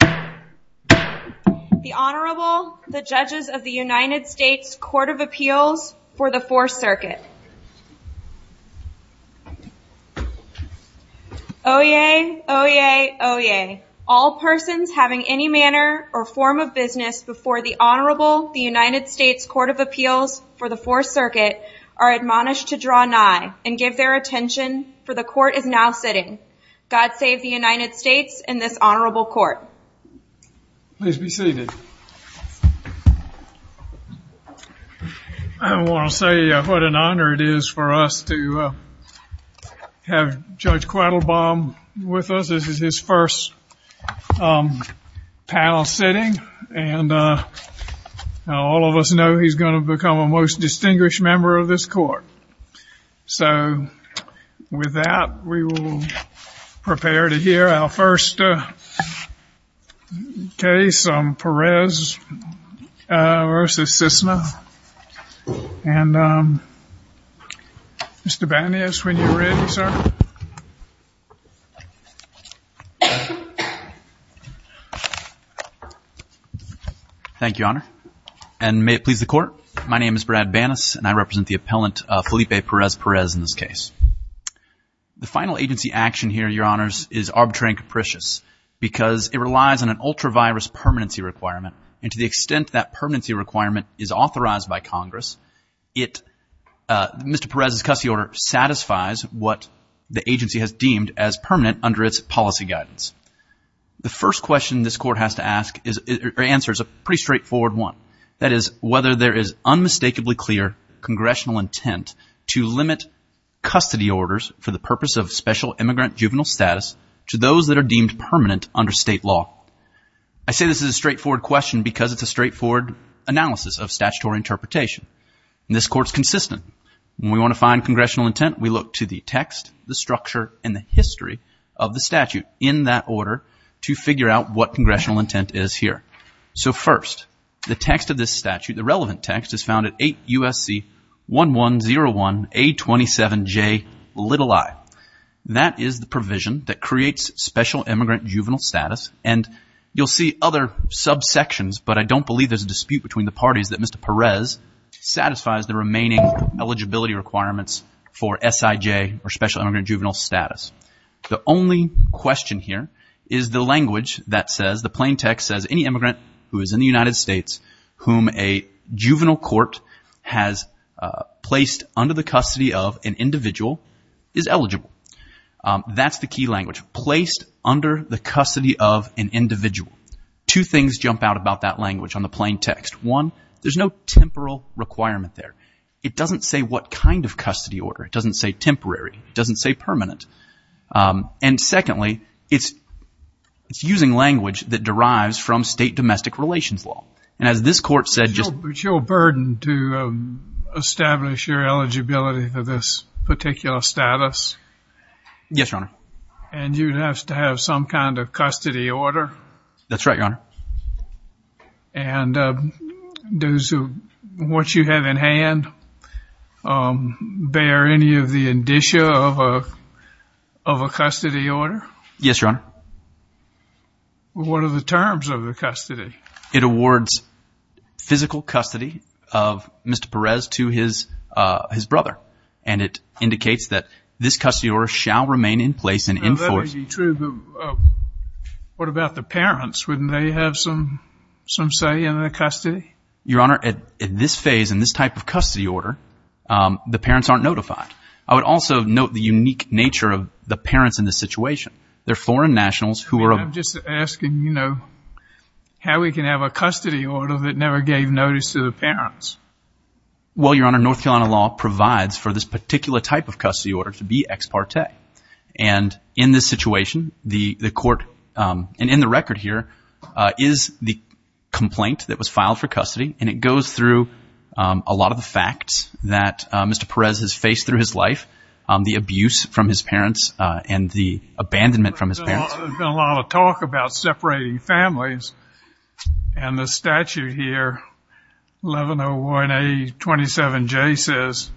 The Honorable, the Judges of the United States Court of Appeals for the 4th Circuit. Oyez, oyez, oyez. All persons having any manner or form of business before the Honorable, the United States Court of Appeals for the 4th Circuit are admonished to draw nigh and give their attention for the Court is now sitting. God save the United States and this Honorable Court. Please be seated. I want to say what an honor it is for us to have Judge Quattlebaum with us. This is his first panel sitting and all of us know he's going to become a most distinguished member of this Court. So with that we will prepare to hear our first case, Perez v. Cissna. Mr. Banas, when you're ready, sir. Thank you, Honor. And may it please the Court, my name is Brad Banas and I represent the because it relies on an ultra-virus permanency requirement and to the extent that permanency requirement is authorized by Congress, it, Mr. Perez's custody order satisfies what the agency has deemed as permanent under its policy guidance. The first question this Court has to ask or answer is a pretty straightforward one. That is whether there is unmistakably clear congressional intent to limit custody orders for the purpose of special immigrant juvenile status to those that are deemed permanent under state law. I say this is a straightforward question because it's a straightforward analysis of statutory interpretation. This Court's consistent. When we want to find congressional intent, we look to the text, the structure, and the history of the statute in that order to figure out what congressional intent is here. So first, the text of this statute, the relevant text, is found at 8 Special Immigrant Juvenile Status and you'll see other subsections, but I don't believe there's a dispute between the parties that Mr. Perez satisfies the remaining eligibility requirements for SIJ or Special Immigrant Juvenile Status. The only question here is the language that says, the plain text says, any immigrant who is in the United States whom a juvenile court has placed under the custody of an individual is eligible. That's the key language, placed under the custody of an individual. Two things jump out about that language on the plain text. One, there's no temporal requirement there. It doesn't say what kind of custody order. It doesn't say temporary. It doesn't say permanent. And as this court said... But you're burdened to establish your eligibility for this particular status? Yes, Your Honor. And you'd have to have some kind of custody order? That's right, Your Honor. And does what you have in hand bear any of the indicia of a custody order? Yes, Your Honor. What are the terms of the custody? It awards physical custody of Mr. Perez to his brother. And it indicates that this custody order shall remain in place and enforced... That would be true, but what about the parents? Wouldn't they have some say in the custody? Your Honor, at this phase, in this type of custody order, the parents aren't notified. I would also note the unique nature of the parents in this situation. They're foreign nationals who are... I'm just asking, you know, how we can have a custody order that never gave notice to the parents? Well, Your Honor, North Carolina law provides for this particular type of custody order to be ex parte. And in this situation, the court, and in the record here, is the complaint that was filed for custody. And it goes through a lot of the facts that Mr. Perez has faced through his life, the abuse from his parents, and the abandonment from his parents. There's been a lot of talk about separating families. And the statute here, 1101A27J says,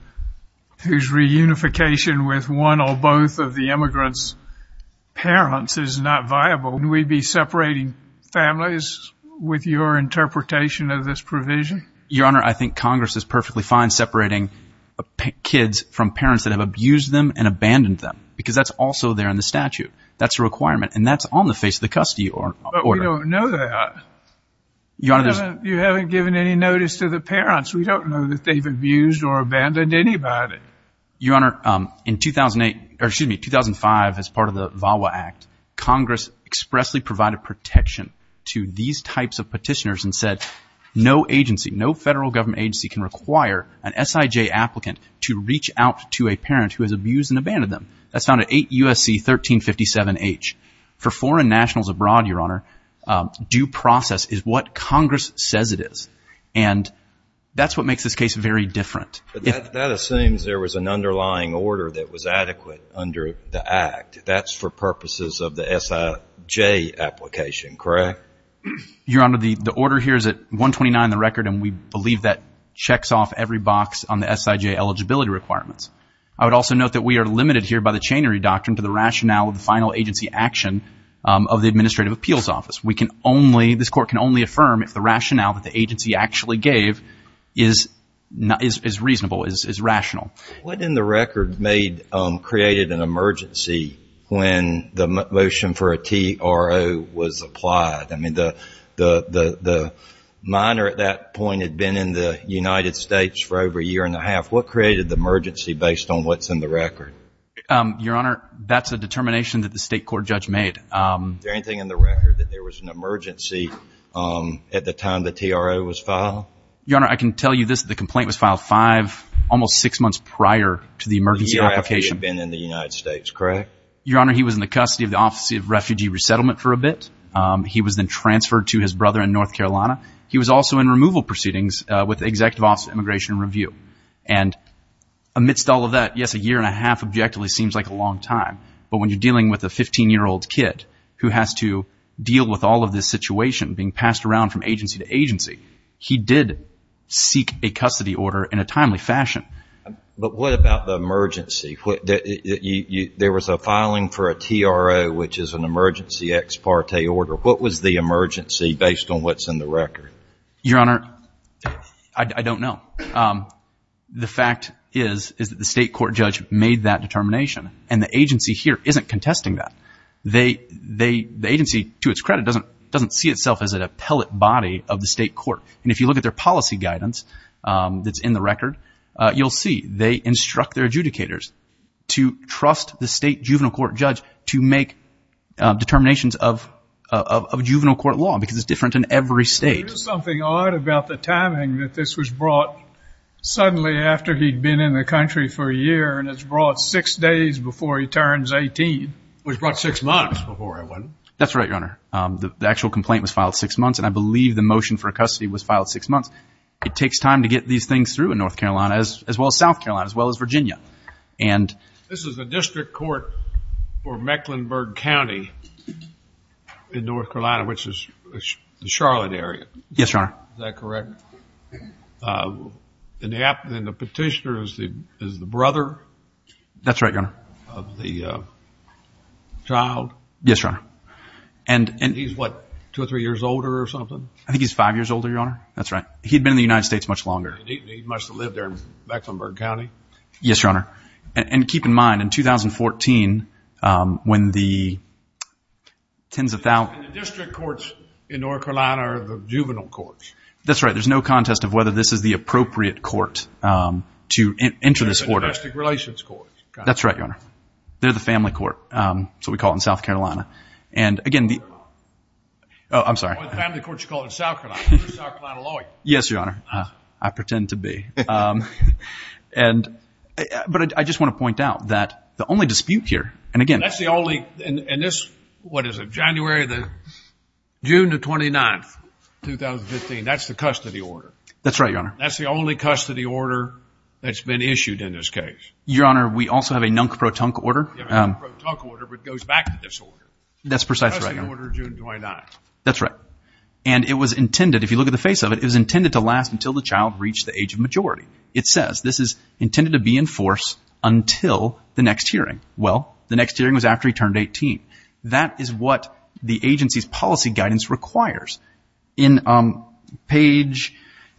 whose reunification with one or both of the immigrant's parents is not viable. Would we be separating families with your interpretation of this provision? Your Honor, I think Congress is perfectly fine separating kids from parents that have the custody order. But we don't know that. You haven't given any notice to the parents. We don't know that they've abused or abandoned anybody. Your Honor, in 2008, or excuse me, 2005, as part of the VAWA Act, Congress expressly provided protection to these types of petitioners and said, no agency, no federal government agency can require an SIJ applicant to reach out to a parent who has abused and abandoned them. That's found at 8 U.S.C. 1357H. For foreign nationals abroad, Your Honor, due process is what Congress says it is. And that's what makes this case very different. That assumes there was an underlying order that was adequate under the Act. That's for purposes of the SIJ application, correct? Your Honor, the order here is at 129 in the record, and we believe that checks off every box on the SIJ eligibility requirements. I would also note that we are limited here by the chainery doctrine to the rationale of the final agency action of the Administrative Appeals Office. We can only, this Court can only affirm if the rationale that the agency actually gave is reasonable, is rational. What in the record made, created an emergency when the motion for a TRO was applied? I mean, the minor at that point had been in the United States for over a year and a half. What created the emergency based on what's in the record? Your Honor, that's a determination that the State Court judge made. Is there anything in the record that there was an emergency at the time the TRO was filed? Your Honor, I can tell you this, the complaint was filed five, almost six months prior to the emergency application. The year after he had been in the United States, correct? Your Honor, he was in the custody of the Office of Refugee Resettlement for a bit. He was then transferred to his brother in North Carolina. He was also in removal proceedings with the Amidst all of that, yes, a year and a half objectively seems like a long time. But when you're dealing with a 15-year-old kid who has to deal with all of this situation being passed around from agency to agency, he did seek a custody order in a timely fashion. But what about the emergency? There was a filing for a TRO, which is an emergency ex parte order. What was the emergency based on what's in the record? Your Honor, I don't know. The fact is, is that the state court judge made that determination. And the agency here isn't contesting that. The agency, to its credit, doesn't see itself as an appellate body of the state court. And if you look at their policy guidance that's in the record, you'll see they instruct their adjudicators to trust the state juvenile court judge to make determinations of juvenile court law because it's different in every state. There's something odd about the timing that this was brought suddenly after he'd been in the country for a year, and it's brought six days before he turns 18. It was brought six months before, wasn't it? That's right, Your Honor. The actual complaint was filed six months, and I believe the motion for a custody was filed six months. It takes time to get these things through in North Carolina, as well as South Carolina, as well as Virginia. And this is a district court for Mecklenburg County in North Carolina, which is the Charlotte area. Yes, Your Honor. Is that correct? And the petitioner is the brother of the child? Yes, Your Honor. And he's what, two or three years older or something? I think he's five years older, Your Honor. That's right. He'd been in the United States much longer. And he must have lived there in Mecklenburg County? Yes, Your Honor. And the courts in North Carolina are the juvenile courts? That's right. There's no contest of whether this is the appropriate court to enter this order. They're the domestic relations courts? That's right, Your Honor. They're the family court. That's what we call it in South Carolina. And again, the... Oh, I'm sorry. Oh, the family court, you call it South Carolina. You're a South Carolina lawyer. Yes, Your Honor. I pretend to be. But I just want to point out that the only dispute here, and again... That's the only... And this, what is it, January the... June the 29th, 2015. That's the custody order? That's right, Your Honor. That's the only custody order that's been issued in this case? Your Honor, we also have a nunk-pro-tunk order. You have a nunk-pro-tunk order, but it goes back to this order. That's precisely right, Your Honor. Custody order June 29th. That's right. And it was intended, if you look at the face of it, it was intended to last until the child reached the age of majority. It says this is intended to be in force until the next hearing. Well, the next hearing was after he turned 18. That is what the agency's policy guidance requires. In page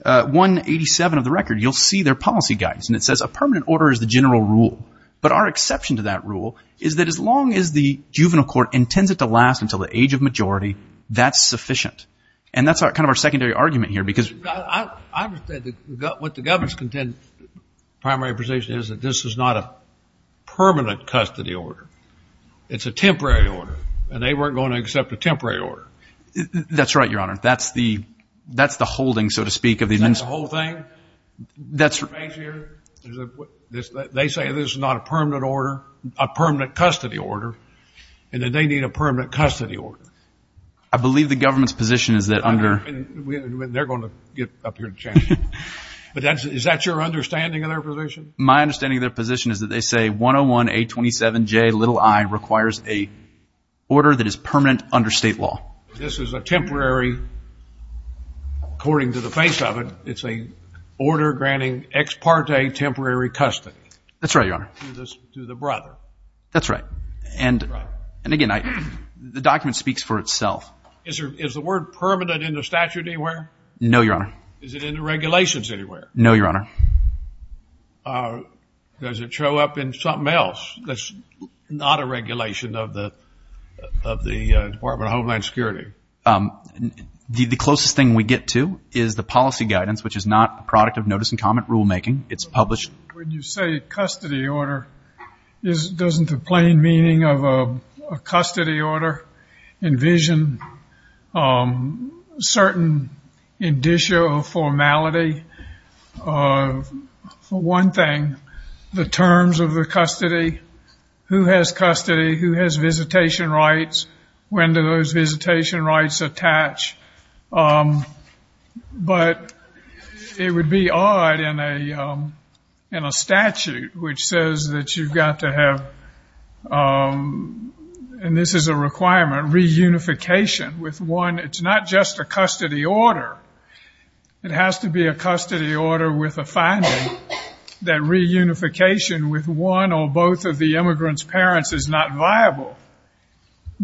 187 of the record, you'll see their policy guidance. And it says a permanent order is the general rule. But our exception to that rule is that as long as the juvenile court intends it to last until the age of majority, that's sufficient. And that's kind of our secondary argument here because... I understand what the governor's primary position is that this is not a It's a temporary order, and they weren't going to accept a temporary order. That's right, Your Honor. That's the holding, so to speak, of the... Is that the whole thing? They say this is not a permanent order, a permanent custody order, and that they need a permanent custody order. I believe the government's position is that under... They're going to get up here and challenge you. But is that your understanding of their position? My understanding of their position is that they say 101-827-J-i requires a order that is permanent under state law. This is a temporary, according to the face of it, it's an order granting ex parte temporary custody. That's right, Your Honor. To the brother. That's right. And again, the document speaks for itself. Is the word permanent in the statute anywhere? No, Your Honor. Does it show up in something else that's not a regulation of the Department of Homeland Security? The closest thing we get to is the policy guidance, which is not a product of notice and comment rulemaking. It's published... When you say custody order, doesn't the plain meaning of a custody order envision certain indicia of formality? For one thing, the terms of the custody. Who has custody? Who has visitation rights? When do those visitation rights attach? But it would be odd in a statute which says that you've got to have... And this is a requirement, reunification with one. It's not just a custody order. It has to be a custody order with a finding that reunification with one or both of the immigrant's parents is not viable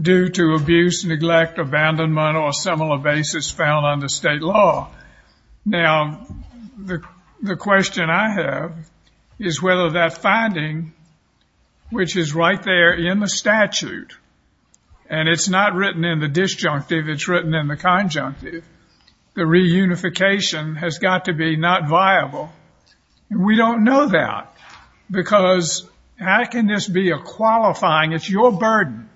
due to abuse, neglect, abandonment, or a similar basis found under state law. Now, the question I have is whether that finding, which is right there in statute, and it's not written in the disjunctive, it's written in the conjunctive, the reunification has got to be not viable. We don't know that because how can this be a qualifying... It's your burden.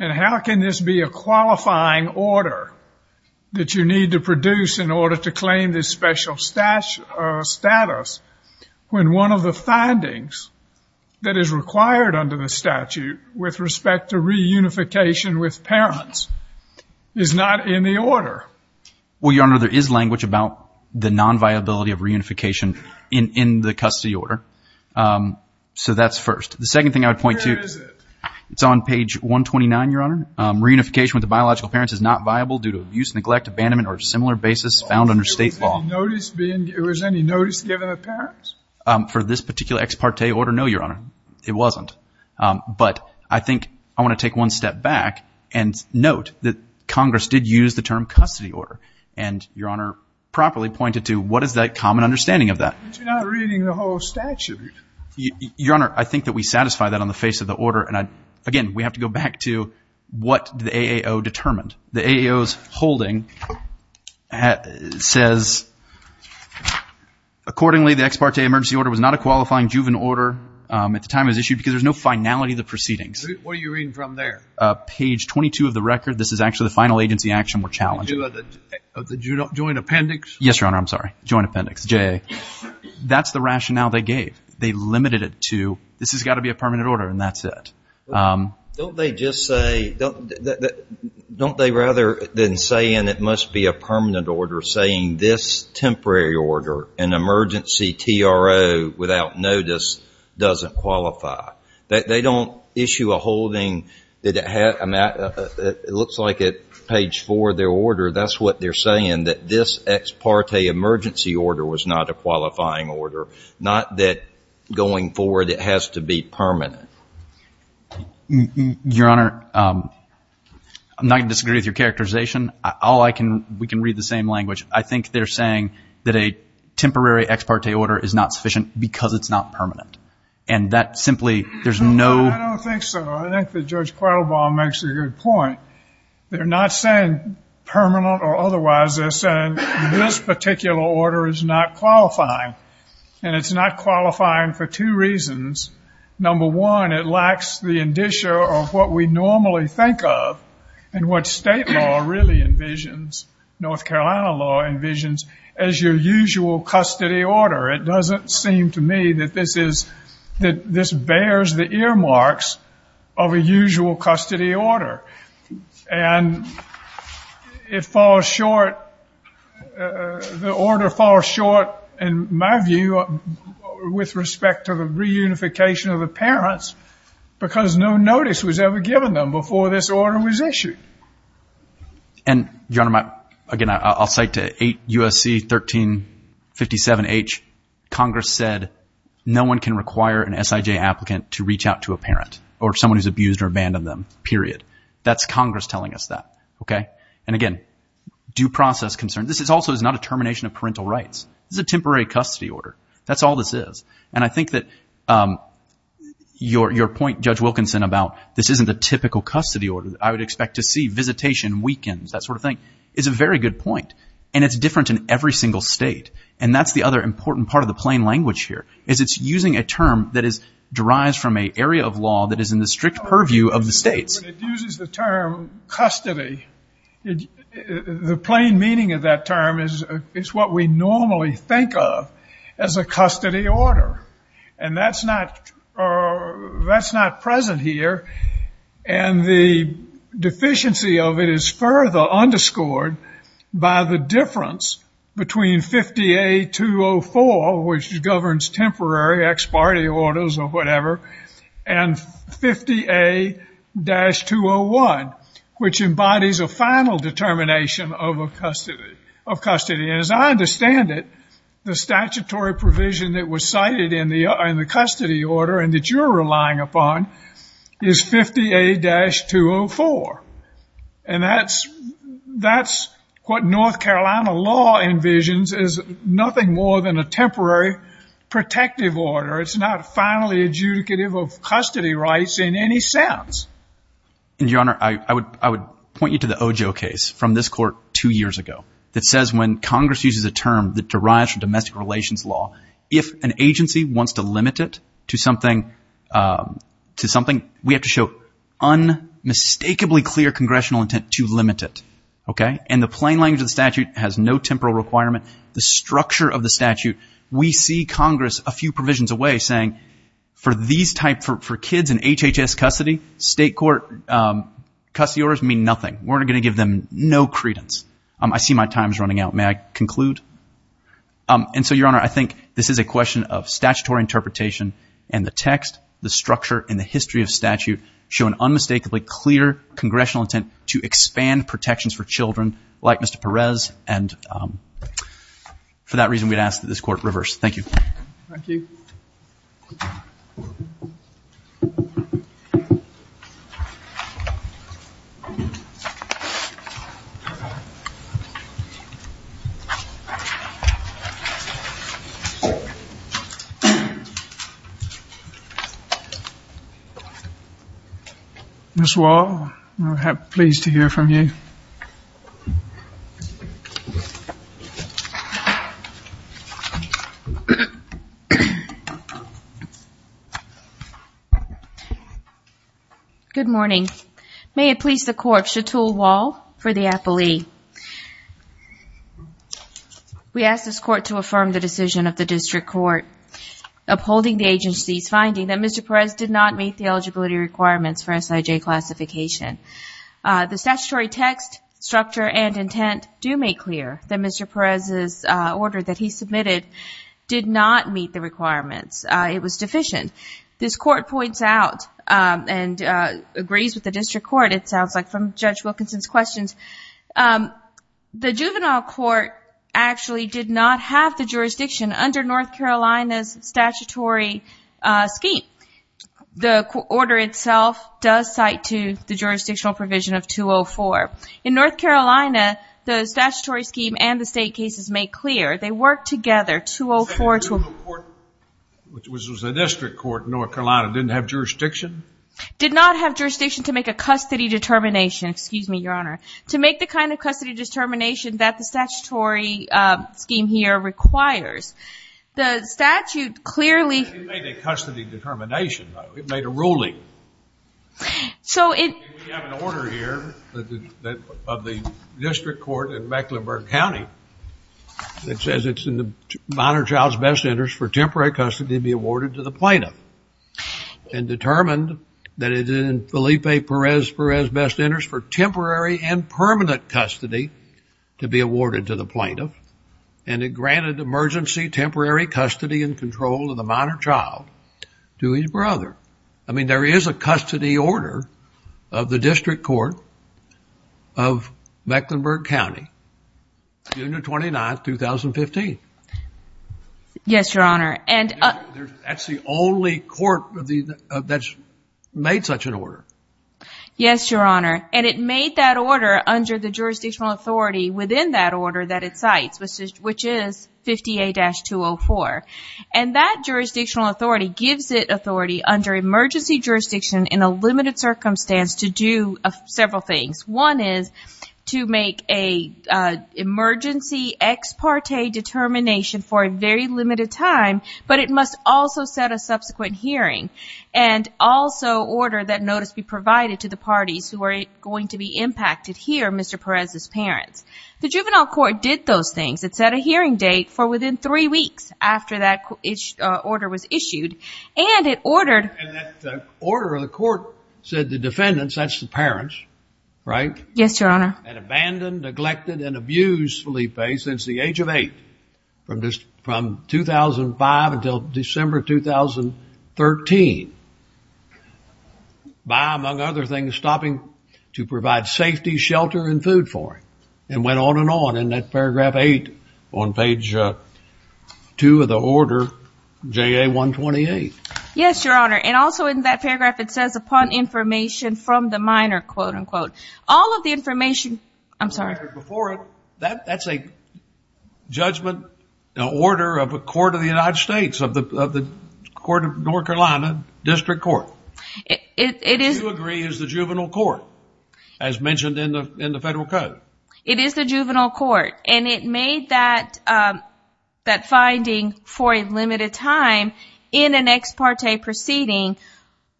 And how can this be a qualifying order that you need to produce in order to claim this special status when one of the findings that is required under the statute with respect to reunification with parents is not in the order? Well, Your Honor, there is language about the non-viability of reunification in the custody order. So that's first. The second thing I would point to... Where is it? It's on page 129, Your Honor. Reunification with the biological parents is not in the order. Is there any notice being... Was any notice given to parents? For this particular ex parte order, no, Your Honor. It wasn't. But I think I want to take one step back and note that Congress did use the term custody order. And Your Honor properly pointed to what is that common understanding of that? But you're not reading the whole statute. Your Honor, I think that we satisfy that on the face of the order. And again, we have to go back to what the AAO says. Accordingly, the ex parte emergency order was not a qualifying juvenile order at the time it was issued because there's no finality of the proceedings. What are you reading from there? Page 22 of the record. This is actually the final agency action we're challenging. Of the joint appendix? Yes, Your Honor. I'm sorry. Joint appendix, JA. That's the rationale they gave. They limited it to this has got to be a permanent order and that's it. Don't they just say... Don't they rather than say, and it must be a permanent order, saying this temporary order, an emergency TRO without notice doesn't qualify? They don't issue a holding that it looks like at page 4 of their order, that's what they're saying, that this ex parte emergency order was not a qualifying order. Not that going forward it has to be permanent. Your Honor, I'm not going to disagree with your characterization. We can read the same language. I think they're saying that a temporary ex parte order is not sufficient because it's not permanent. And that simply, there's no... I don't think so. I think that Judge Quattlebaum makes a good point. They're not saying permanent or otherwise. They're saying this particular order is not qualifying. And it's not qualifying for two reasons. Number one, it lacks the indicia of what we normally think of and what state law really envisions North Carolina law envisions as your usual custody order. It doesn't seem to me that this is, that this bears the earmarks of a usual custody order. And it falls short, the order falls short, in my view, with respect to the reunification of the parents because no notice was ever given them before this order was issued. And your Honor, again, I'll cite to 8 U.S.C. 1357H, Congress said no one can require an S.I.J. applicant to reach out to a parent or someone who's abused or abandoned them, period. That's Congress telling us that, okay? And again, due process concerns. This also is not a termination of parental rights. This is a temporary custody order. That's all this is. And I think that your point, Judge Wilkinson, about this isn't a typical custody order, I would expect to see visitation, weekends, that sort of thing, is a very good point. And it's different in every single state. And that's the other important part of the plain language here, is it's using a term that derives from an area of law that is in the strict purview of the states. But it uses the term custody. The plain meaning of that term is what we normally think of as a custody order. And that's not present here. And the deficiency of it is further underscored by the difference between 50A.204, which governs temporary ex parte orders or whatever, and 50A-201, which embodies a final determination of custody. And as I understand it, the statutory provision that was cited in the custody order and that you're relying upon is 50A-204. And that's what North Carolina law envisions as nothing more than a temporary protective order. It's not finally adjudicative of custody rights in any sense. And, Your Honor, I would point you to the Ojo case from this court two years ago that says when Congress uses a term that derives from domestic relations law, if an agency wants to limit it to something, we have to show unmistakably clear congressional intent to limit it, okay? And the plain language of the statute has no temporal requirement. The structure of the statute, we see Congress a few provisions away saying, for kids in HHS custody, state court custody orders mean nothing. We're going to give them no credence. I see my time is running out. May I conclude? And so, Your Honor, I think this is a question of statutory interpretation and the text, the structure, and the history of statute show an unmistakably clear congressional intent to expand protections for children like Mr. Perez. And for that reason, we'd ask that you close the hearing. Ms. Wall, I'm pleased to hear from you. Good morning. May it please the court, Chatul Wall for the appellee. We ask this court to affirm the decision of the district court upholding the agency's finding that Mr. Perez did not meet the eligibility requirements for SIJ classification. The statutory text, structure, and intent do make clear that Mr. Perez's order that he submitted did not meet the requirements. It was deficient. This court points out and agrees with the district court, it sounds like, from Judge Wilkinson's questions. The juvenile court actually did not have the jurisdiction under North Carolina's statutory scheme. The order itself does cite to the jurisdictional provision of 204. In North Carolina, the statutory scheme and the state cases make clear they work together. The district court in North Carolina didn't have jurisdiction? Did not have jurisdiction to make a custody determination. Excuse me, Your Honor. To make the kind of custody determination that the statutory scheme here requires. The statute clearly... It made a custody determination, though. It made a ruling. We have an order here of the district court in Mecklenburg County that says it's in the minor child's best interest for that it is in Felipe Perez Perez's best interest for temporary and permanent custody to be awarded to the plaintiff, and it granted emergency temporary custody and control of the minor child to his brother. I mean, there is a custody order of the district court of Mecklenburg County, June the 29th, 2015. Yes, Your Honor, and... That's the only court that's made such an order. Yes, Your Honor, and it made that order under the jurisdictional authority within that order that it cites, which is 58-204, and that jurisdictional authority gives it authority under emergency jurisdiction in a limited circumstance to do several things. One is to make a emergency ex parte determination for a very limited time, but it must also set a subsequent hearing and also order that notice be provided to the parties who are going to be impacted here, Mr. Perez's parents. The juvenile court did those things. It set a hearing date for within three weeks after that order was issued, and it ordered... And that order of the court said the defendants, that's the parents, right? Yes, Your Honor. And abandoned, neglected, and abused Felipe since the age of eight from 2005 until December 2013 by, among other things, stopping to provide safety, shelter, and food for him, and went on and on in that paragraph eight on page two of the order, JA-128. Yes, Your Honor, and also in that paragraph, it says, upon information from the minor, quote, unquote. All of the information... I'm sorry. Before it, that's a judgment, an order of a court of the United States, of the court of North Carolina, district court. It is... Do you agree it's the juvenile court, as mentioned in the federal code? It is the juvenile court, and it made that finding for limited time in an ex parte proceeding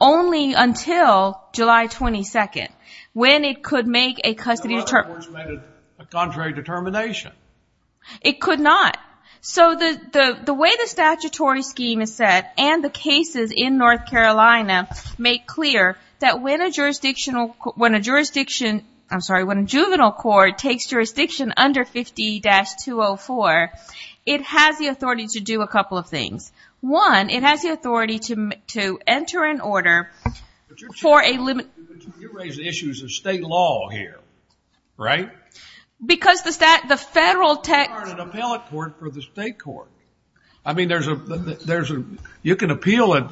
only until July 22nd, when it could make a custody... The court made a contrary determination. It could not. So the way the statutory scheme is set and the cases in North Carolina make clear that when a jurisdictional... When a jurisdiction... I'm sorry. When a juvenile court takes jurisdiction under 50-204, it has the authority to do a couple of things. One, it has the authority to enter an order for a... But you're raising issues of state law here, right? Because the federal... You aren't an appellate court for the state court. I mean, there's a... You can appeal...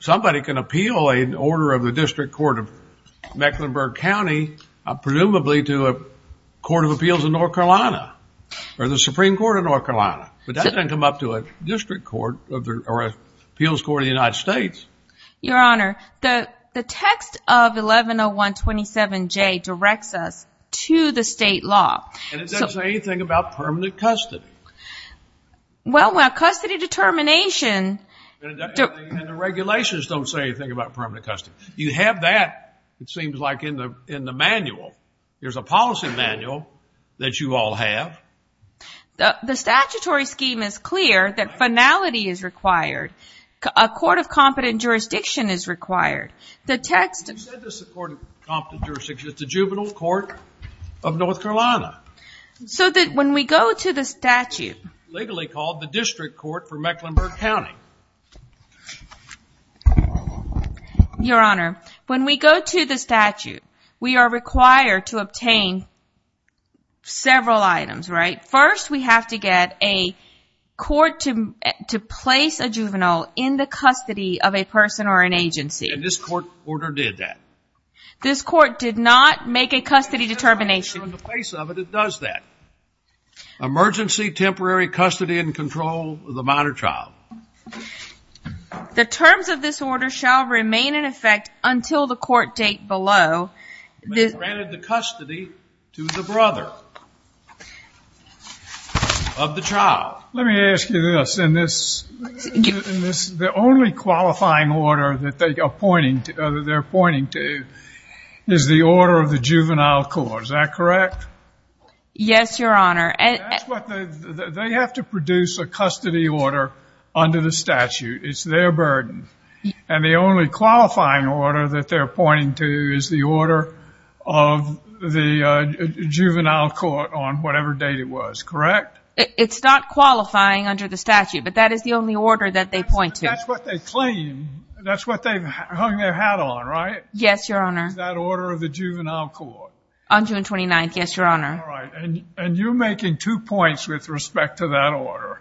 Somebody can appeal an order of the district court of Mecklenburg County, presumably to a district court of appeals in North Carolina, or the Supreme Court of North Carolina. But that doesn't come up to a district court or an appeals court in the United States. Your Honor, the text of 110127J directs us to the state law. And it doesn't say anything about permanent custody. Well, when a custody determination... And the regulations don't say anything about permanent custody. You have that, it seems like, in the manual. There's a policy manual that you all have. The statutory scheme is clear that finality is required. A court of competent jurisdiction is required. The text... You said this is a court of competent jurisdiction. It's a juvenile court of North Carolina. So that when we go to the statute... Legally called the district court for Mecklenburg County. Your Honor, when we go to the statute, we are required to obtain several items, right? First, we have to get a court to place a juvenile in the custody of a person or an agency. And this court order did that. This court did not make a custody determination. In the face of it, it does that. Emergency temporary custody and control of the minor child. The terms of this order shall remain in effect until the court date below. They granted the custody to the brother of the child. Let me ask you this. The only qualifying order that they're pointing to is the order of the juvenile court. Is that correct? Yes, Your Honor. That's what... They have to produce a custody order under the statute. It's their burden. And the only qualifying order that they're pointing to is the order of the juvenile court on whatever date it was. Correct? It's not qualifying under the statute, but that is the only order that they point to. That's what they claim. That's what they've hung their hat on, right? Yes, Your Honor. That order of the juvenile court. On June 29th. Yes, Your Honor. And you're making two points with respect to that order.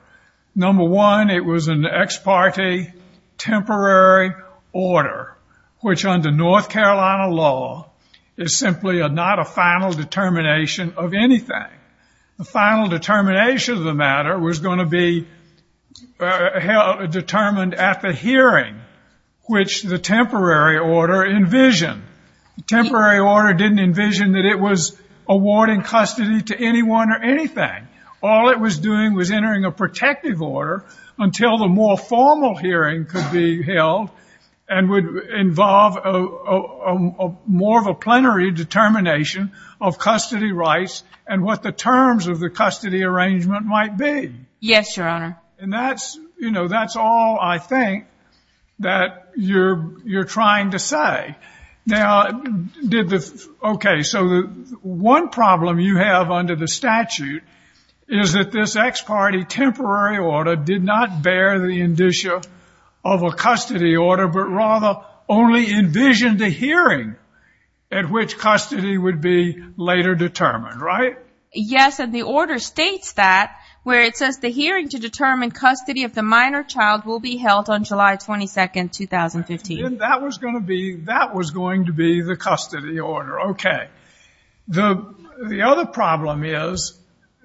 Number one, it was an ex parte temporary order, which under North Carolina law is simply not a final determination of anything. The final determination of the matter was going to be determined at the hearing, which the temporary order envisioned. The temporary order didn't envision that it was awarding custody to anyone or anything. All it was doing was entering a protective order until the more formal hearing could be held and would involve more of a plenary determination of custody rights and what the terms of the custody arrangement might be. Yes, Your Honor. And that's all I think that you're trying to say. Now, okay, so one problem you have under the statute is that this ex parte temporary order did not bear the indicia of a custody order, but rather only envisioned a hearing at which custody would be later determined, right? Yes, and the order states that where it says the hearing to determine custody of the minor child will be held on July 22nd, 2015. That was going to be the custody order. Okay. The other problem is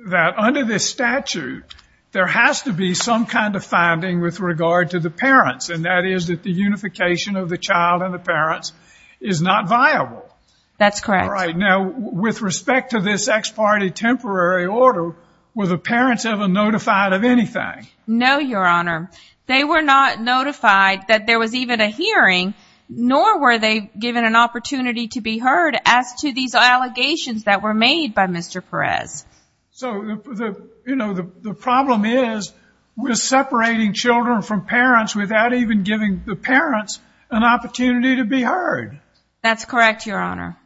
that under this statute, there has to be some kind of finding with regard to the parents, and that is that the unification of the child and the parents is not viable. That's correct. All right. Now, with respect to this ex parte temporary order, were the parents ever notified of anything? No, Your Honor. They were not notified that there was even a hearing, nor were they given an opportunity to be heard as to these allegations that were made by Mr. Perez. So, you know, the problem is we're separating children from parents without even giving the parents an opportunity to be heard. That's correct, Your Honor.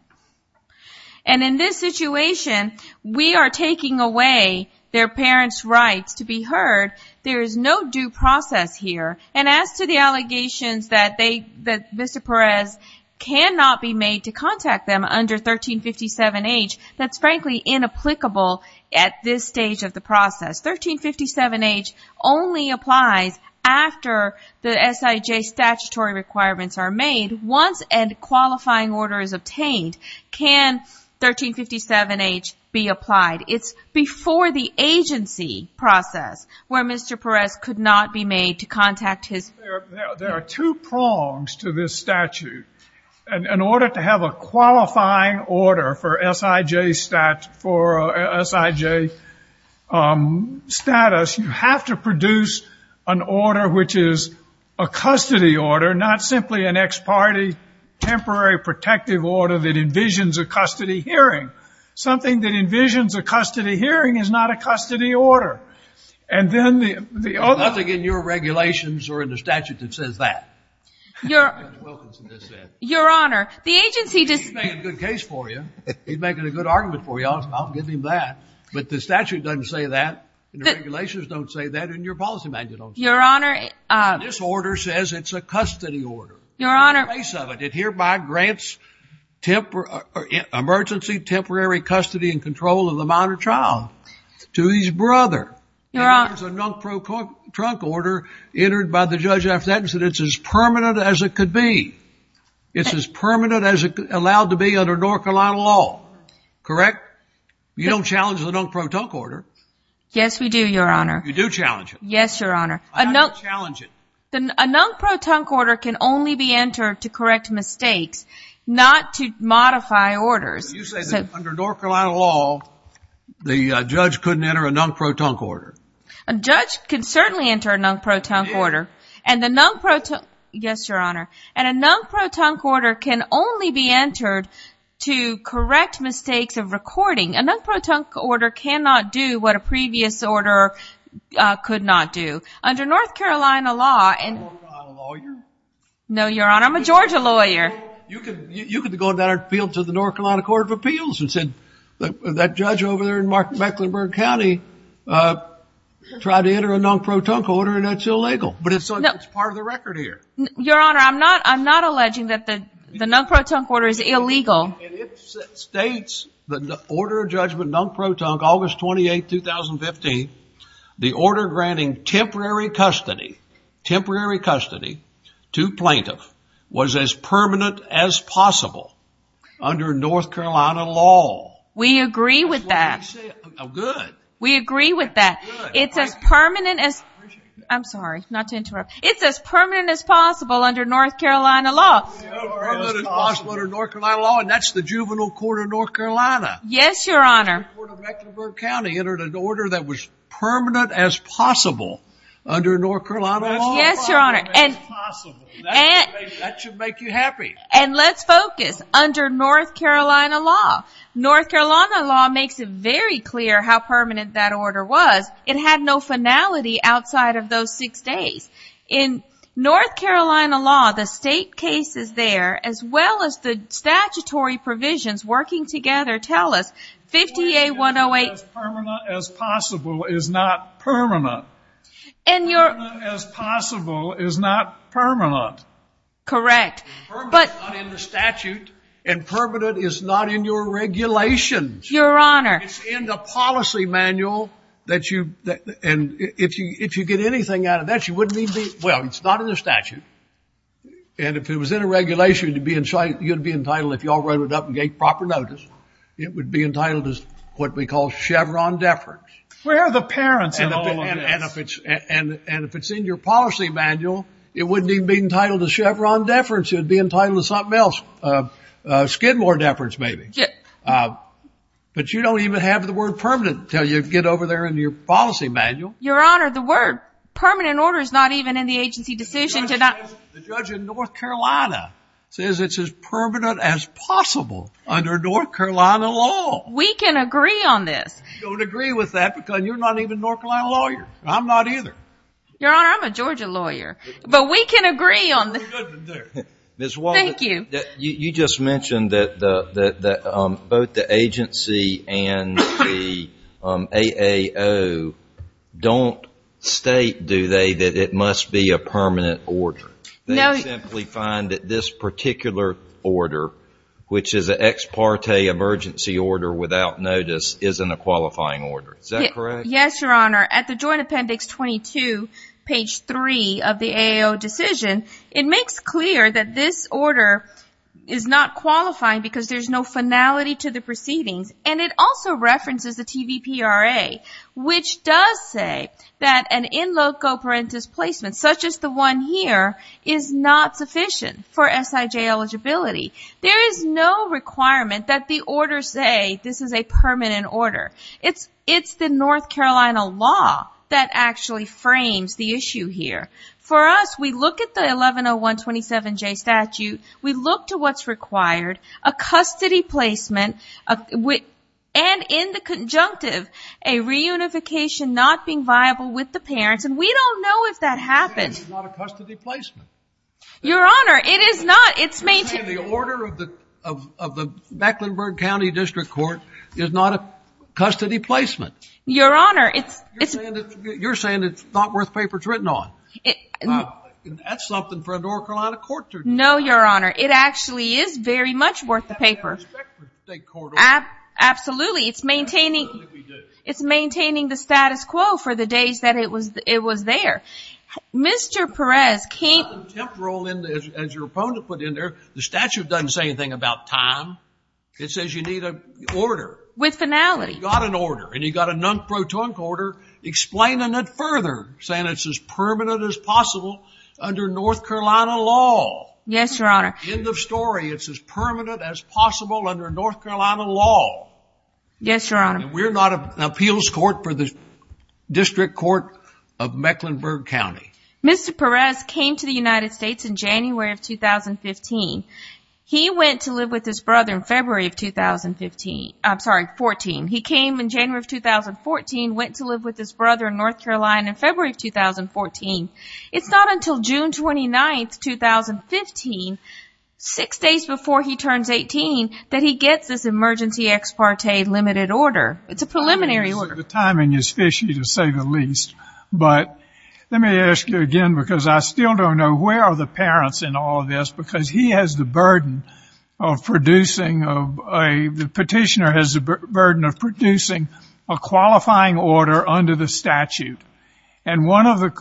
And in this situation, we are taking away their parents' rights to be heard. There is no due process here. And as to the allegations that Mr. Perez cannot be made to contact them under 1357H, that's frankly inapplicable at this stage of the process. 1357H only applies after the SIJ statutory requirements are made. Once a qualifying order is obtained, can 1357H be applied? It's before the agency process where Mr. Perez could not be made to contact his parents. There are two prongs to this statute. In order to have a qualifying order for SIJ status, you have to produce an order which is a custody order, not simply an ex parte, temporary protective order that envisions a custody hearing. Something that envisions a custody hearing is not a custody order. And then the other... Nothing in your regulations or in the statute that says that. Your... Your Honor, the agency... He's making a good case for you. He's making a good argument for you. I'll give him that. But the statute doesn't say that. And the regulations don't say that. And your policy manual don't say that. Your Honor... This order says it's a custody order. Your Honor... In the case of it, it hereby grants emergency temporary custody and control of the minor child to his brother. Your Honor... And there's a nunk pro trunc order entered by the judge after that and said it's as permanent as it could be. It's as permanent as it's allowed to be under North Carolina law. Correct? You don't challenge the nunk pro trunc order. Yes, we do, Your Honor. You do challenge it. Yes, Your Honor. I don't challenge it. The nunk pro trunc order can only be entered to correct mistakes, not to modify orders. You say that under North Carolina law, the judge couldn't enter a nunk pro trunc order. A judge can certainly enter a nunk pro trunc order. And the nunk pro trunc... Yes, Your Honor. And a nunk pro trunc order can only be entered to correct mistakes of recording. A nunk pro trunc order cannot do what a previous order could not do. Under North Carolina law and... Are you a North Carolina lawyer? No, Your Honor. I'm a Georgia lawyer. You could go to the North Carolina Court of Appeals and said that judge over there in Mecklenburg County tried to enter a nunk pro trunc order and it's illegal. But it's part of the record here. Your Honor, I'm not alleging that the nunk pro trunc order is illegal. It states that the order of judgment, nunk pro trunc, August 28, 2015, the order granting temporary custody, temporary custody to plaintiff was as permanent as possible under North Carolina law. We agree with that. Good. We agree with that. It's as permanent as... I'm sorry, not to interrupt. It's as permanent as possible under North Carolina law. As permanent as possible under North Carolina law. And that's the juvenile court of North Carolina. Yes, Your Honor. Mecklenburg County entered an order that was permanent as possible under North Carolina law. Yes, Your Honor. That should make you happy. And let's focus under North Carolina law. North Carolina law makes it very clear how permanent that order was. It had no finality outside of those six days. In North Carolina law, the state cases there, as well as the statutory provisions working together, tell us 50A108... As permanent as possible is not permanent. And Your... As possible is not permanent. Correct. But... Not in the statute. And permanent is not in your regulations. Your Honor. It's in the policy manual that you... And if you get anything out of that, you wouldn't need the... Well, it's not in the statute. And if it was in a regulation, you'd be entitled, if you all wrote it up and gave proper notice. It would be entitled to what we call Chevron deference. Where are the parents in all of this? And if it's in your policy manual, it wouldn't even be entitled to Chevron deference. It would be entitled to something else. Skidmore deference, maybe. But you don't even have the word permanent until you get over there in your policy manual. Your Honor, the word permanent order is not even in the agency decision to not... The judge in North Carolina says it's as permanent as possible under North Carolina law. We can agree on this. You don't agree with that because you're not even a North Carolina lawyer. I'm not either. Your Honor, I'm a Georgia lawyer. But we can agree on... Ms. Wall, you just mentioned that both the agency and the AAO don't state, do they, that it must be a permanent order. They simply find that this particular order, which is an ex parte emergency order without notice, isn't a qualifying order. Is that correct? Yes, Your Honor. At the Joint Appendix 22, page 3 of the AAO decision, it makes clear that this order is not qualifying because there's no finality to the proceedings. And it also references the TVPRA, which does say that an in loco parentis placement, such as the one here, is not sufficient for SIJ eligibility. There is no requirement that the order say this is a permanent order. It's the North Carolina law that actually frames the issue here. For us, we look at the 110127J statute, we look to what's required, a custody placement, and in the conjunctive, a reunification not being viable with the parents. And we don't know if that happened. It's not a custody placement. Your Honor, it is not. It's maintained. The order of the Mecklenburg County District Court is not a custody placement. Your Honor, it's... You're saying it's not worth papers written on. That's something for a North Carolina court to... No, Your Honor. It actually is very much worth the paper. Absolutely. It's maintaining the status quo for the days that it was there. Mr. Perez can't... Contemporarily, as your opponent put in there, the statute doesn't say anything about time. It says you need an order. With finality. You got an order. And you got a non-protonic order explaining it further, saying it's as permanent as possible under North Carolina law. Yes, Your Honor. End of story. It's as permanent as possible under North Carolina law. Yes, Your Honor. We're not an appeals court for the District Court of Mecklenburg County. Mr. Perez came to the United States in January of 2015. He went to live with his brother in February of 2015. I'm sorry, 14. He came in January of 2014, went to live with his brother in North Carolina in February of 2014. It's not until June 29th, 2015, six days before he turns 18, that he gets this emergency ex parte limited order. It's a preliminary order. The timing is fishy, to say the least. But let me ask you again, because I still don't know, where are the parents in all of this? Because he has the burden of producing... The petitioner has the burden of producing a qualifying order under the statute. And one of the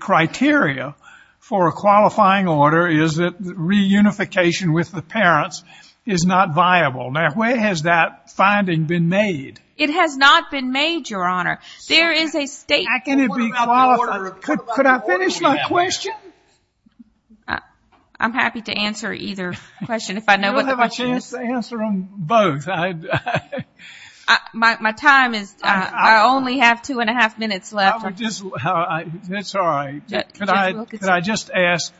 criteria for a qualifying order is that reunification with the parents is not viable. Now, where has that finding been made? It has not been made, Your Honor. There is a state... How can it be qualified? Could I finish my question? I'm happy to answer either question if I know what the question is. You'll have a chance to answer them both. My time is... I only have two and a half minutes left. That's all right. Could I just ask,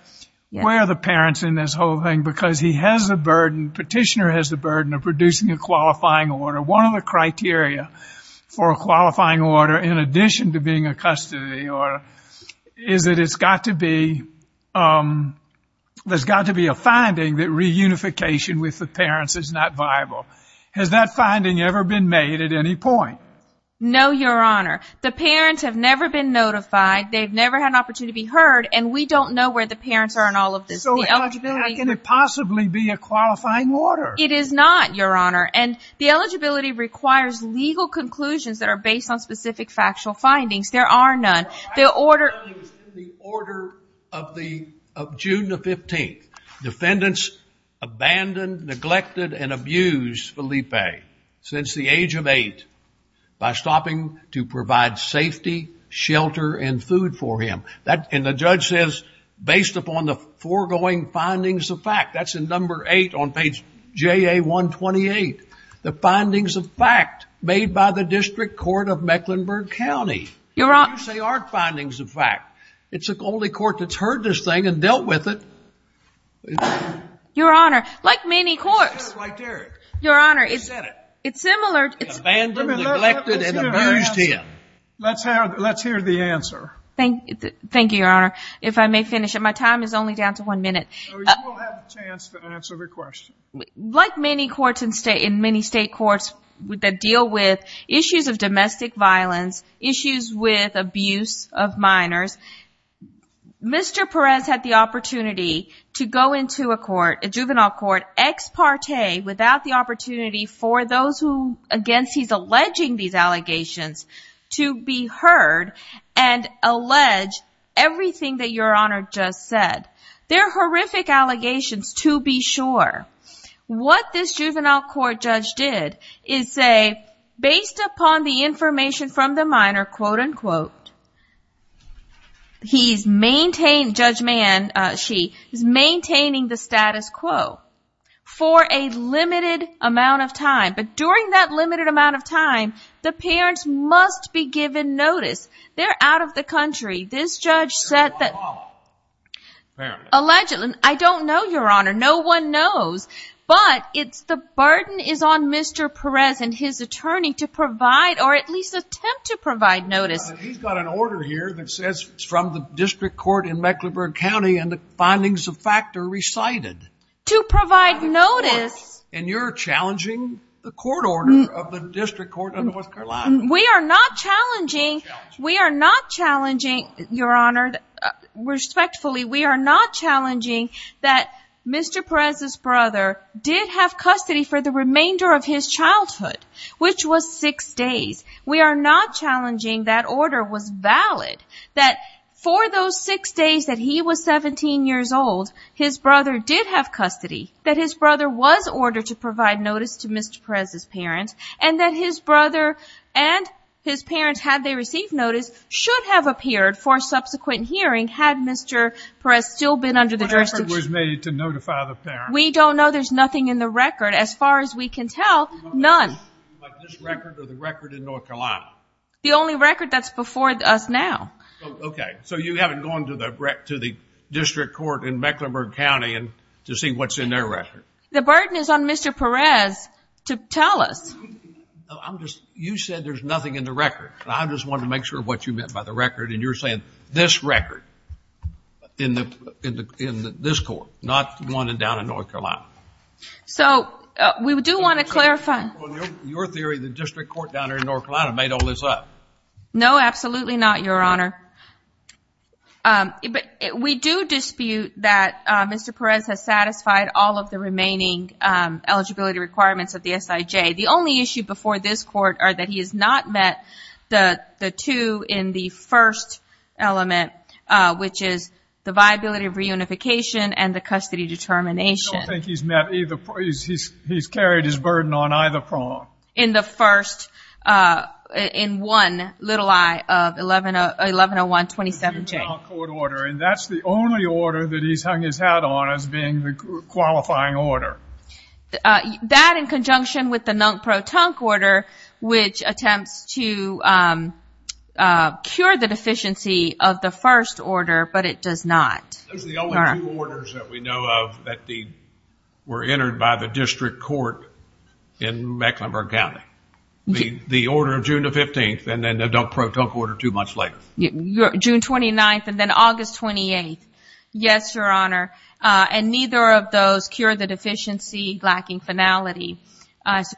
where are the parents in this whole thing? Because he has the burden, petitioner has the burden of producing a qualifying order. One of the criteria for a qualifying order, in addition to being a custody order, is that it's got to be... There's got to be a finding that reunification with the parents is not viable. Has that finding ever been made at any point? No, Your Honor. The parents have never been notified. They've never had an opportunity to be heard. And we don't know where the parents are in all of this. So the eligibility... Can it possibly be a qualifying order? It is not, Your Honor. And the eligibility requires legal conclusions that are based on specific factual findings. There are none. The order... I can tell you it was in the order of June the 15th. Defendants abandoned, neglected, and abused Felipe since the age of eight by stopping to provide safety, shelter, and food for him. And the judge says, based upon the foregoing findings of fact. That's in number eight on page JA-128. The findings of fact made by the District Court of Mecklenburg County. Your Honor... They are findings of fact. It's the only court that's heard this thing and dealt with it. Your Honor, like many courts... I said it like Derek. Your Honor, it's similar... Abandoned, neglected, and abused him. Let's hear the answer. Thank you, Your Honor. If I may finish it. My time is only down to one minute. You will have a chance to answer the question. Like many state courts that deal with issues of domestic violence, issues with abuse of minors, Mr. Perez had the opportunity to go into a court, a juvenile court, ex parte, without the opportunity for those who, against he's alleging these allegations, to be heard and allege everything that Your Honor just said. They're horrific allegations to be sure. What this juvenile court judge did is say, based upon the information from the minor, quote, unquote, he's maintained... Judge Man... She is maintaining the status quo for a limited amount of time. But during that limited amount of time, the parents must be given notice. They're out of the country. This judge said that... Allegedly... I don't know, Your Honor. No one knows. But it's the burden is on Mr. Perez and his attorney or at least attempt to provide notice. He's got an order here that says it's from the district court in Mecklenburg County and the findings of fact are recited. To provide notice... And you're challenging the court order of the district court of North Carolina. We are not challenging... We are not challenging, Your Honor, respectfully, we are not challenging that Mr. Perez's brother did have custody for the remainder of his childhood, which was six days. We are not challenging that order was valid, that for those six days that he was 17 years old, his brother did have custody, that his brother was ordered to provide notice to Mr. Perez's parents and that his brother and his parents, had they received notice, should have appeared for subsequent hearing had Mr. Perez still been under the jurisdiction. What effort was made to notify the parents? We don't know. There's nothing in the record, as far as we can tell, none. Like this record or the record in North Carolina? The only record that's before us now. Okay. So you haven't gone to the district court in Mecklenburg County and to see what's in their record? The burden is on Mr. Perez to tell us. You said there's nothing in the record. I just wanted to make sure of what you meant by the record and you're saying this record in this court, not one down in North Carolina. So we do want to clarify. Your theory, the district court down in North Carolina made all this up. No, absolutely not, Your Honor. We do dispute that Mr. Perez has satisfied all of the remaining eligibility requirements of the SIJ. The only issue before this court are that he has not met the two in the first element, which is the viability of reunification and the custody determination. I don't think he's met either. He's carried his burden on either prong. In the first, in one little eye of 1101-2017. The new NUNC court order. And that's the only order that he's hung his hat on as being the qualifying order. That in conjunction with the NUNC pro-tunc order, which attempts to cure the deficiency of the first order, but it does not. Those are the only two orders that we know of that were entered by the district court in Mecklenburg County. The order of June the 15th, and then the adult pro-tunc order two months later. June 29th and then August 28th. Yes, Your Honor. And neither of those cure the deficiency lacking finality.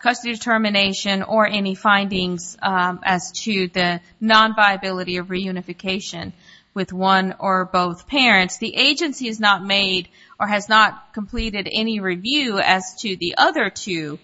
Custody determination or any findings as to the non-viability of reunification with one or both parents. The agency has not made or has not completed any review as to the other two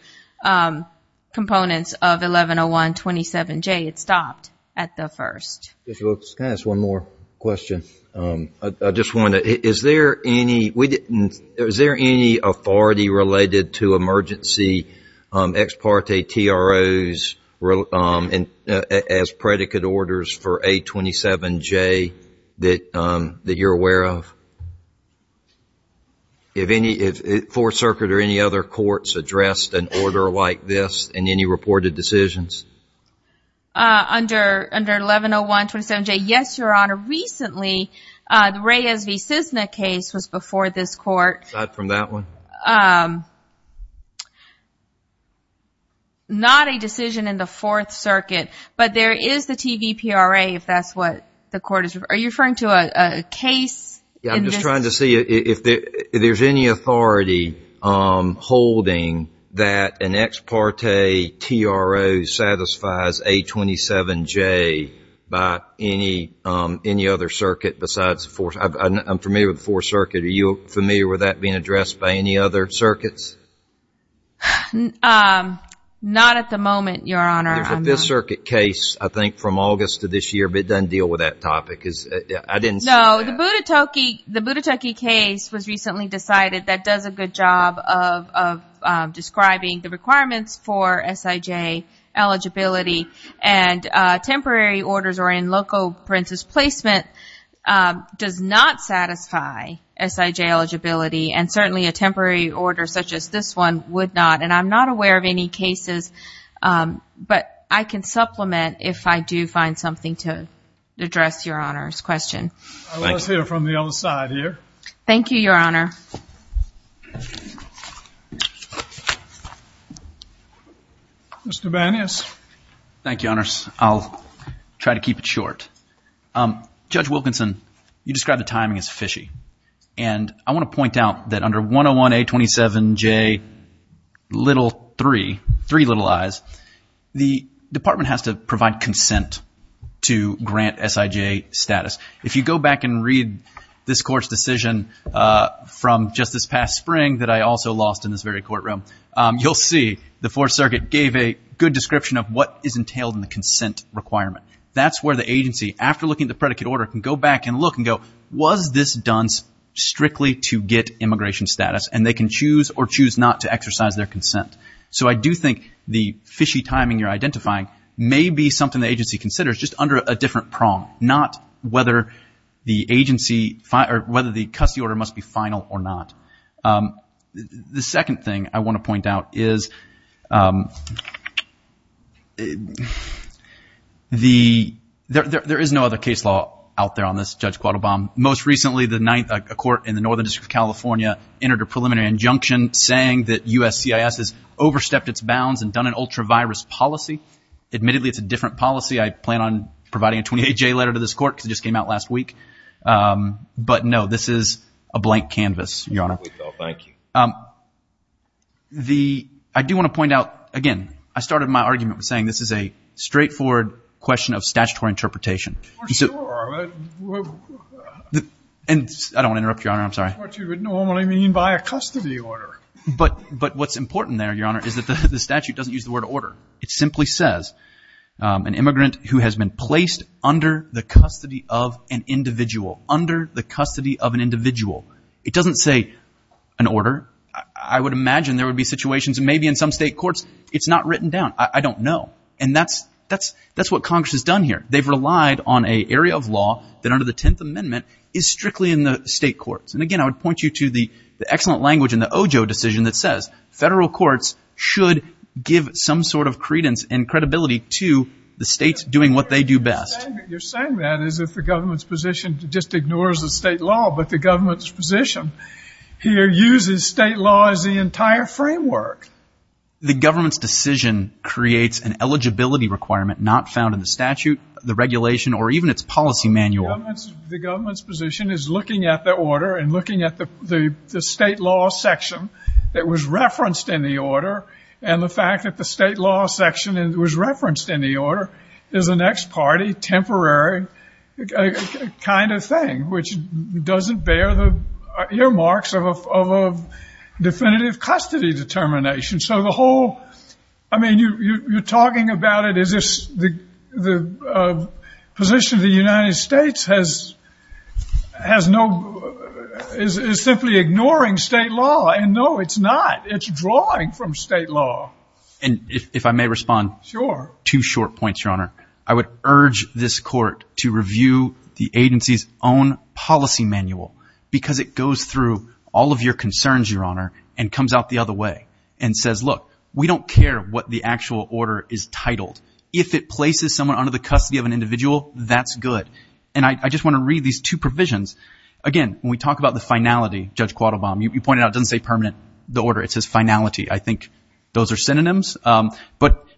components of 1101-27J. It stopped at the first. Just one more question. I just want to, is there any, is there any authority related to emergency ex parte TROs and as predicate orders for A-27J that you're aware of? If any, if Fourth Circuit or any other courts addressed an order like this in any reported decisions? Under 1101-27J, yes, Your Honor. Recently, the Reyes v. Cisna case was before this court. Aside from that one? Um, not a decision in the Fourth Circuit, but there is the TVPRA if that's what the court is, are you referring to a case? Yeah, I'm just trying to see if there's any authority holding that an ex parte TRO satisfies A-27J by any other circuit besides the Fourth. I'm familiar with the Fourth Circuit. Are you familiar with that being addressed by any other circuits? Not at the moment, Your Honor. There's a Fifth Circuit case, I think, from August of this year, but it doesn't deal with that topic. I didn't see that. No, the Budetoki case was recently decided that does a good job of describing the requirements for SIJ eligibility and temporary orders or in local princes placement does not satisfy SIJ eligibility and certainly a temporary order such as this one would not. And I'm not aware of any cases, but I can supplement if I do find something to address, Your Honor's question. I'll let us hear from the other side here. Thank you, Your Honor. Mr. Banias. Thank you, Honors. I'll try to keep it short. Judge Wilkinson, you described the timing as fishy. And I want to point out that under 101-A-27J-3, three little I's, the department has to provide consent to grant SIJ status. If you go back and read this court's decision from just this past spring that I also lost in this very courtroom, you'll see the Fourth Circuit gave a good description of what is entailed in the consent requirement. That's where the agency, after looking at the predicate order, can go back and look and go, was this done strictly to get immigration status? And they can choose or choose not to exercise their consent. So I do think the fishy timing you're identifying may be something the agency considers just under a different prong, not whether the agency or whether the custody order must be final or not. The second thing I want to point out is that there is no other case law out there on this, Judge Quattlebaum. Most recently, a court in the Northern District of California entered a preliminary injunction saying that USCIS has overstepped its bounds and done an ultra-virus policy. Admittedly, it's a different policy. I plan on providing a 28-J letter to this court because it just came out last week. But no, this is a blank canvas, Your Honor. No, thank you. I do want to point out, again, I started my argument by saying this is a straightforward question of statutory interpretation. For sure. And I don't want to interrupt, Your Honor. I'm sorry. What you would normally mean by a custody order. But what's important there, Your Honor, is that the statute doesn't use the word order. It simply says an immigrant who has been placed under the custody of an individual, under the custody of an individual. It doesn't say an order. I would imagine there would be situations, maybe in some state courts, it's not written down. I don't know. And that's what Congress has done here. They've relied on an area of law that under the 10th Amendment is strictly in the state courts. And again, I would point you to the excellent language in the OJO decision that says federal courts should give some sort of credence and credibility to the states doing what they do best. You're saying that as if the government's position just ignores the state law. But the government's position here uses state law as the entire framework. The government's decision creates an eligibility requirement not found in the statute, the regulation, or even its policy manual. The government's position is looking at the order and looking at the state law section that was referenced in the order. And the fact that the state law section was referenced in the order is an ex parte, temporary kind of thing, which doesn't bear the earmarks of a definitive custody determination. So the whole, I mean, you're talking about it as if the position of the United States has no, is simply ignoring state law. And no, it's not. It's drawing from state law. And if I may respond. Sure. Two short points, Your Honor. I would urge this court to review the agency's own policy manual because it goes through all of your concerns, Your Honor, and comes out the other way and says, look, we don't care what the actual order is titled. If it places someone under the custody of an individual, that's good. And I just want to read these two provisions. Again, when we talk about the finality, Judge Quattlebaum, you pointed out it doesn't say permanent, the order, it says finality. I think those are synonyms.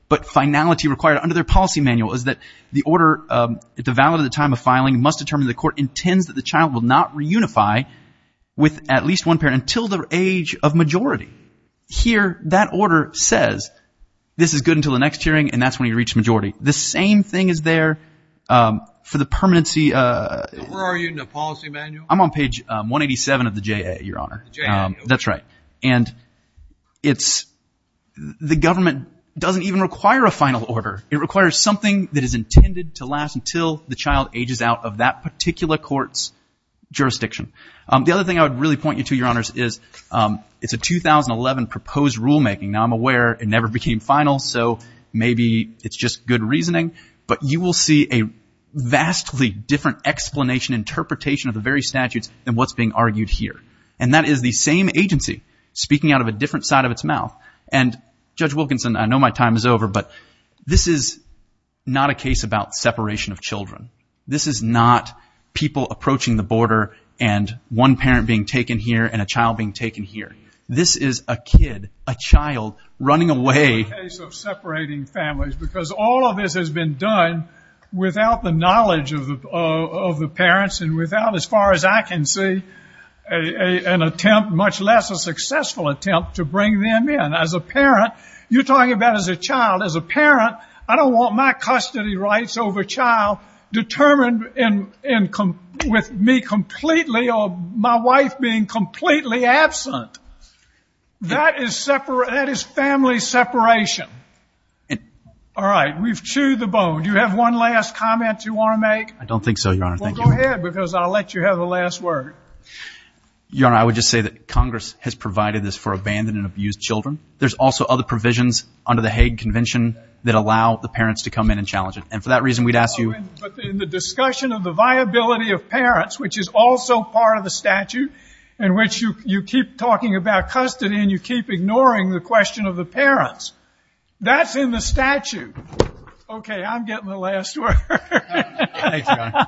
But finality required under their policy manual is that the order devalued at the time of filing must determine the court intends that the child will not reunify with at least one parent until their age of majority. Here, that order says, this is good until the next hearing, and that's when you reach majority. The same thing is there for the permanency. Where are you in the policy manual? I'm on page 187 of the JA, Your Honor. That's right. And the government doesn't even require a final order. It requires something that is intended to last until the child ages out of that particular court's jurisdiction. The other thing I would really point you to, Your Honors, is it's a 2011 proposed rulemaking. Now, I'm aware it never became final, so maybe it's just good reasoning. But you will see a vastly different explanation, interpretation of the very statutes than what's being argued here. And that is the same agency speaking out of a different side of its mouth. And Judge Wilkinson, I know my time is over, but this is not a case about separation of children. This is not people approaching the border and one parent being taken here and a child being taken here. This is a kid, a child running away. It's not a case of separating families because all of this has been done without the knowledge of the parents and without, as far as I can see, an attempt, much less a successful attempt, to bring them in. As a parent, you're talking about as a child. As a parent, I don't want my custody rights over child determined with me completely or my wife being completely absent. That is family separation. All right, we've chewed the bone. Do you have one last comment you want to make? I don't think so, Your Honor. Well, go ahead because I'll let you have the last word. Your Honor, I would just say that Congress has provided this for abandoned and abused children. There's also other provisions under the Hague Convention that allow the parents to come in and challenge it. And for that reason, we'd ask you... But in the discussion of the viability of parents, which is also part of the statute in which you keep talking about custody and you keep ignoring the question of the parents, that's in the statute. Okay, I'm getting the last word. Thanks, Your Honor.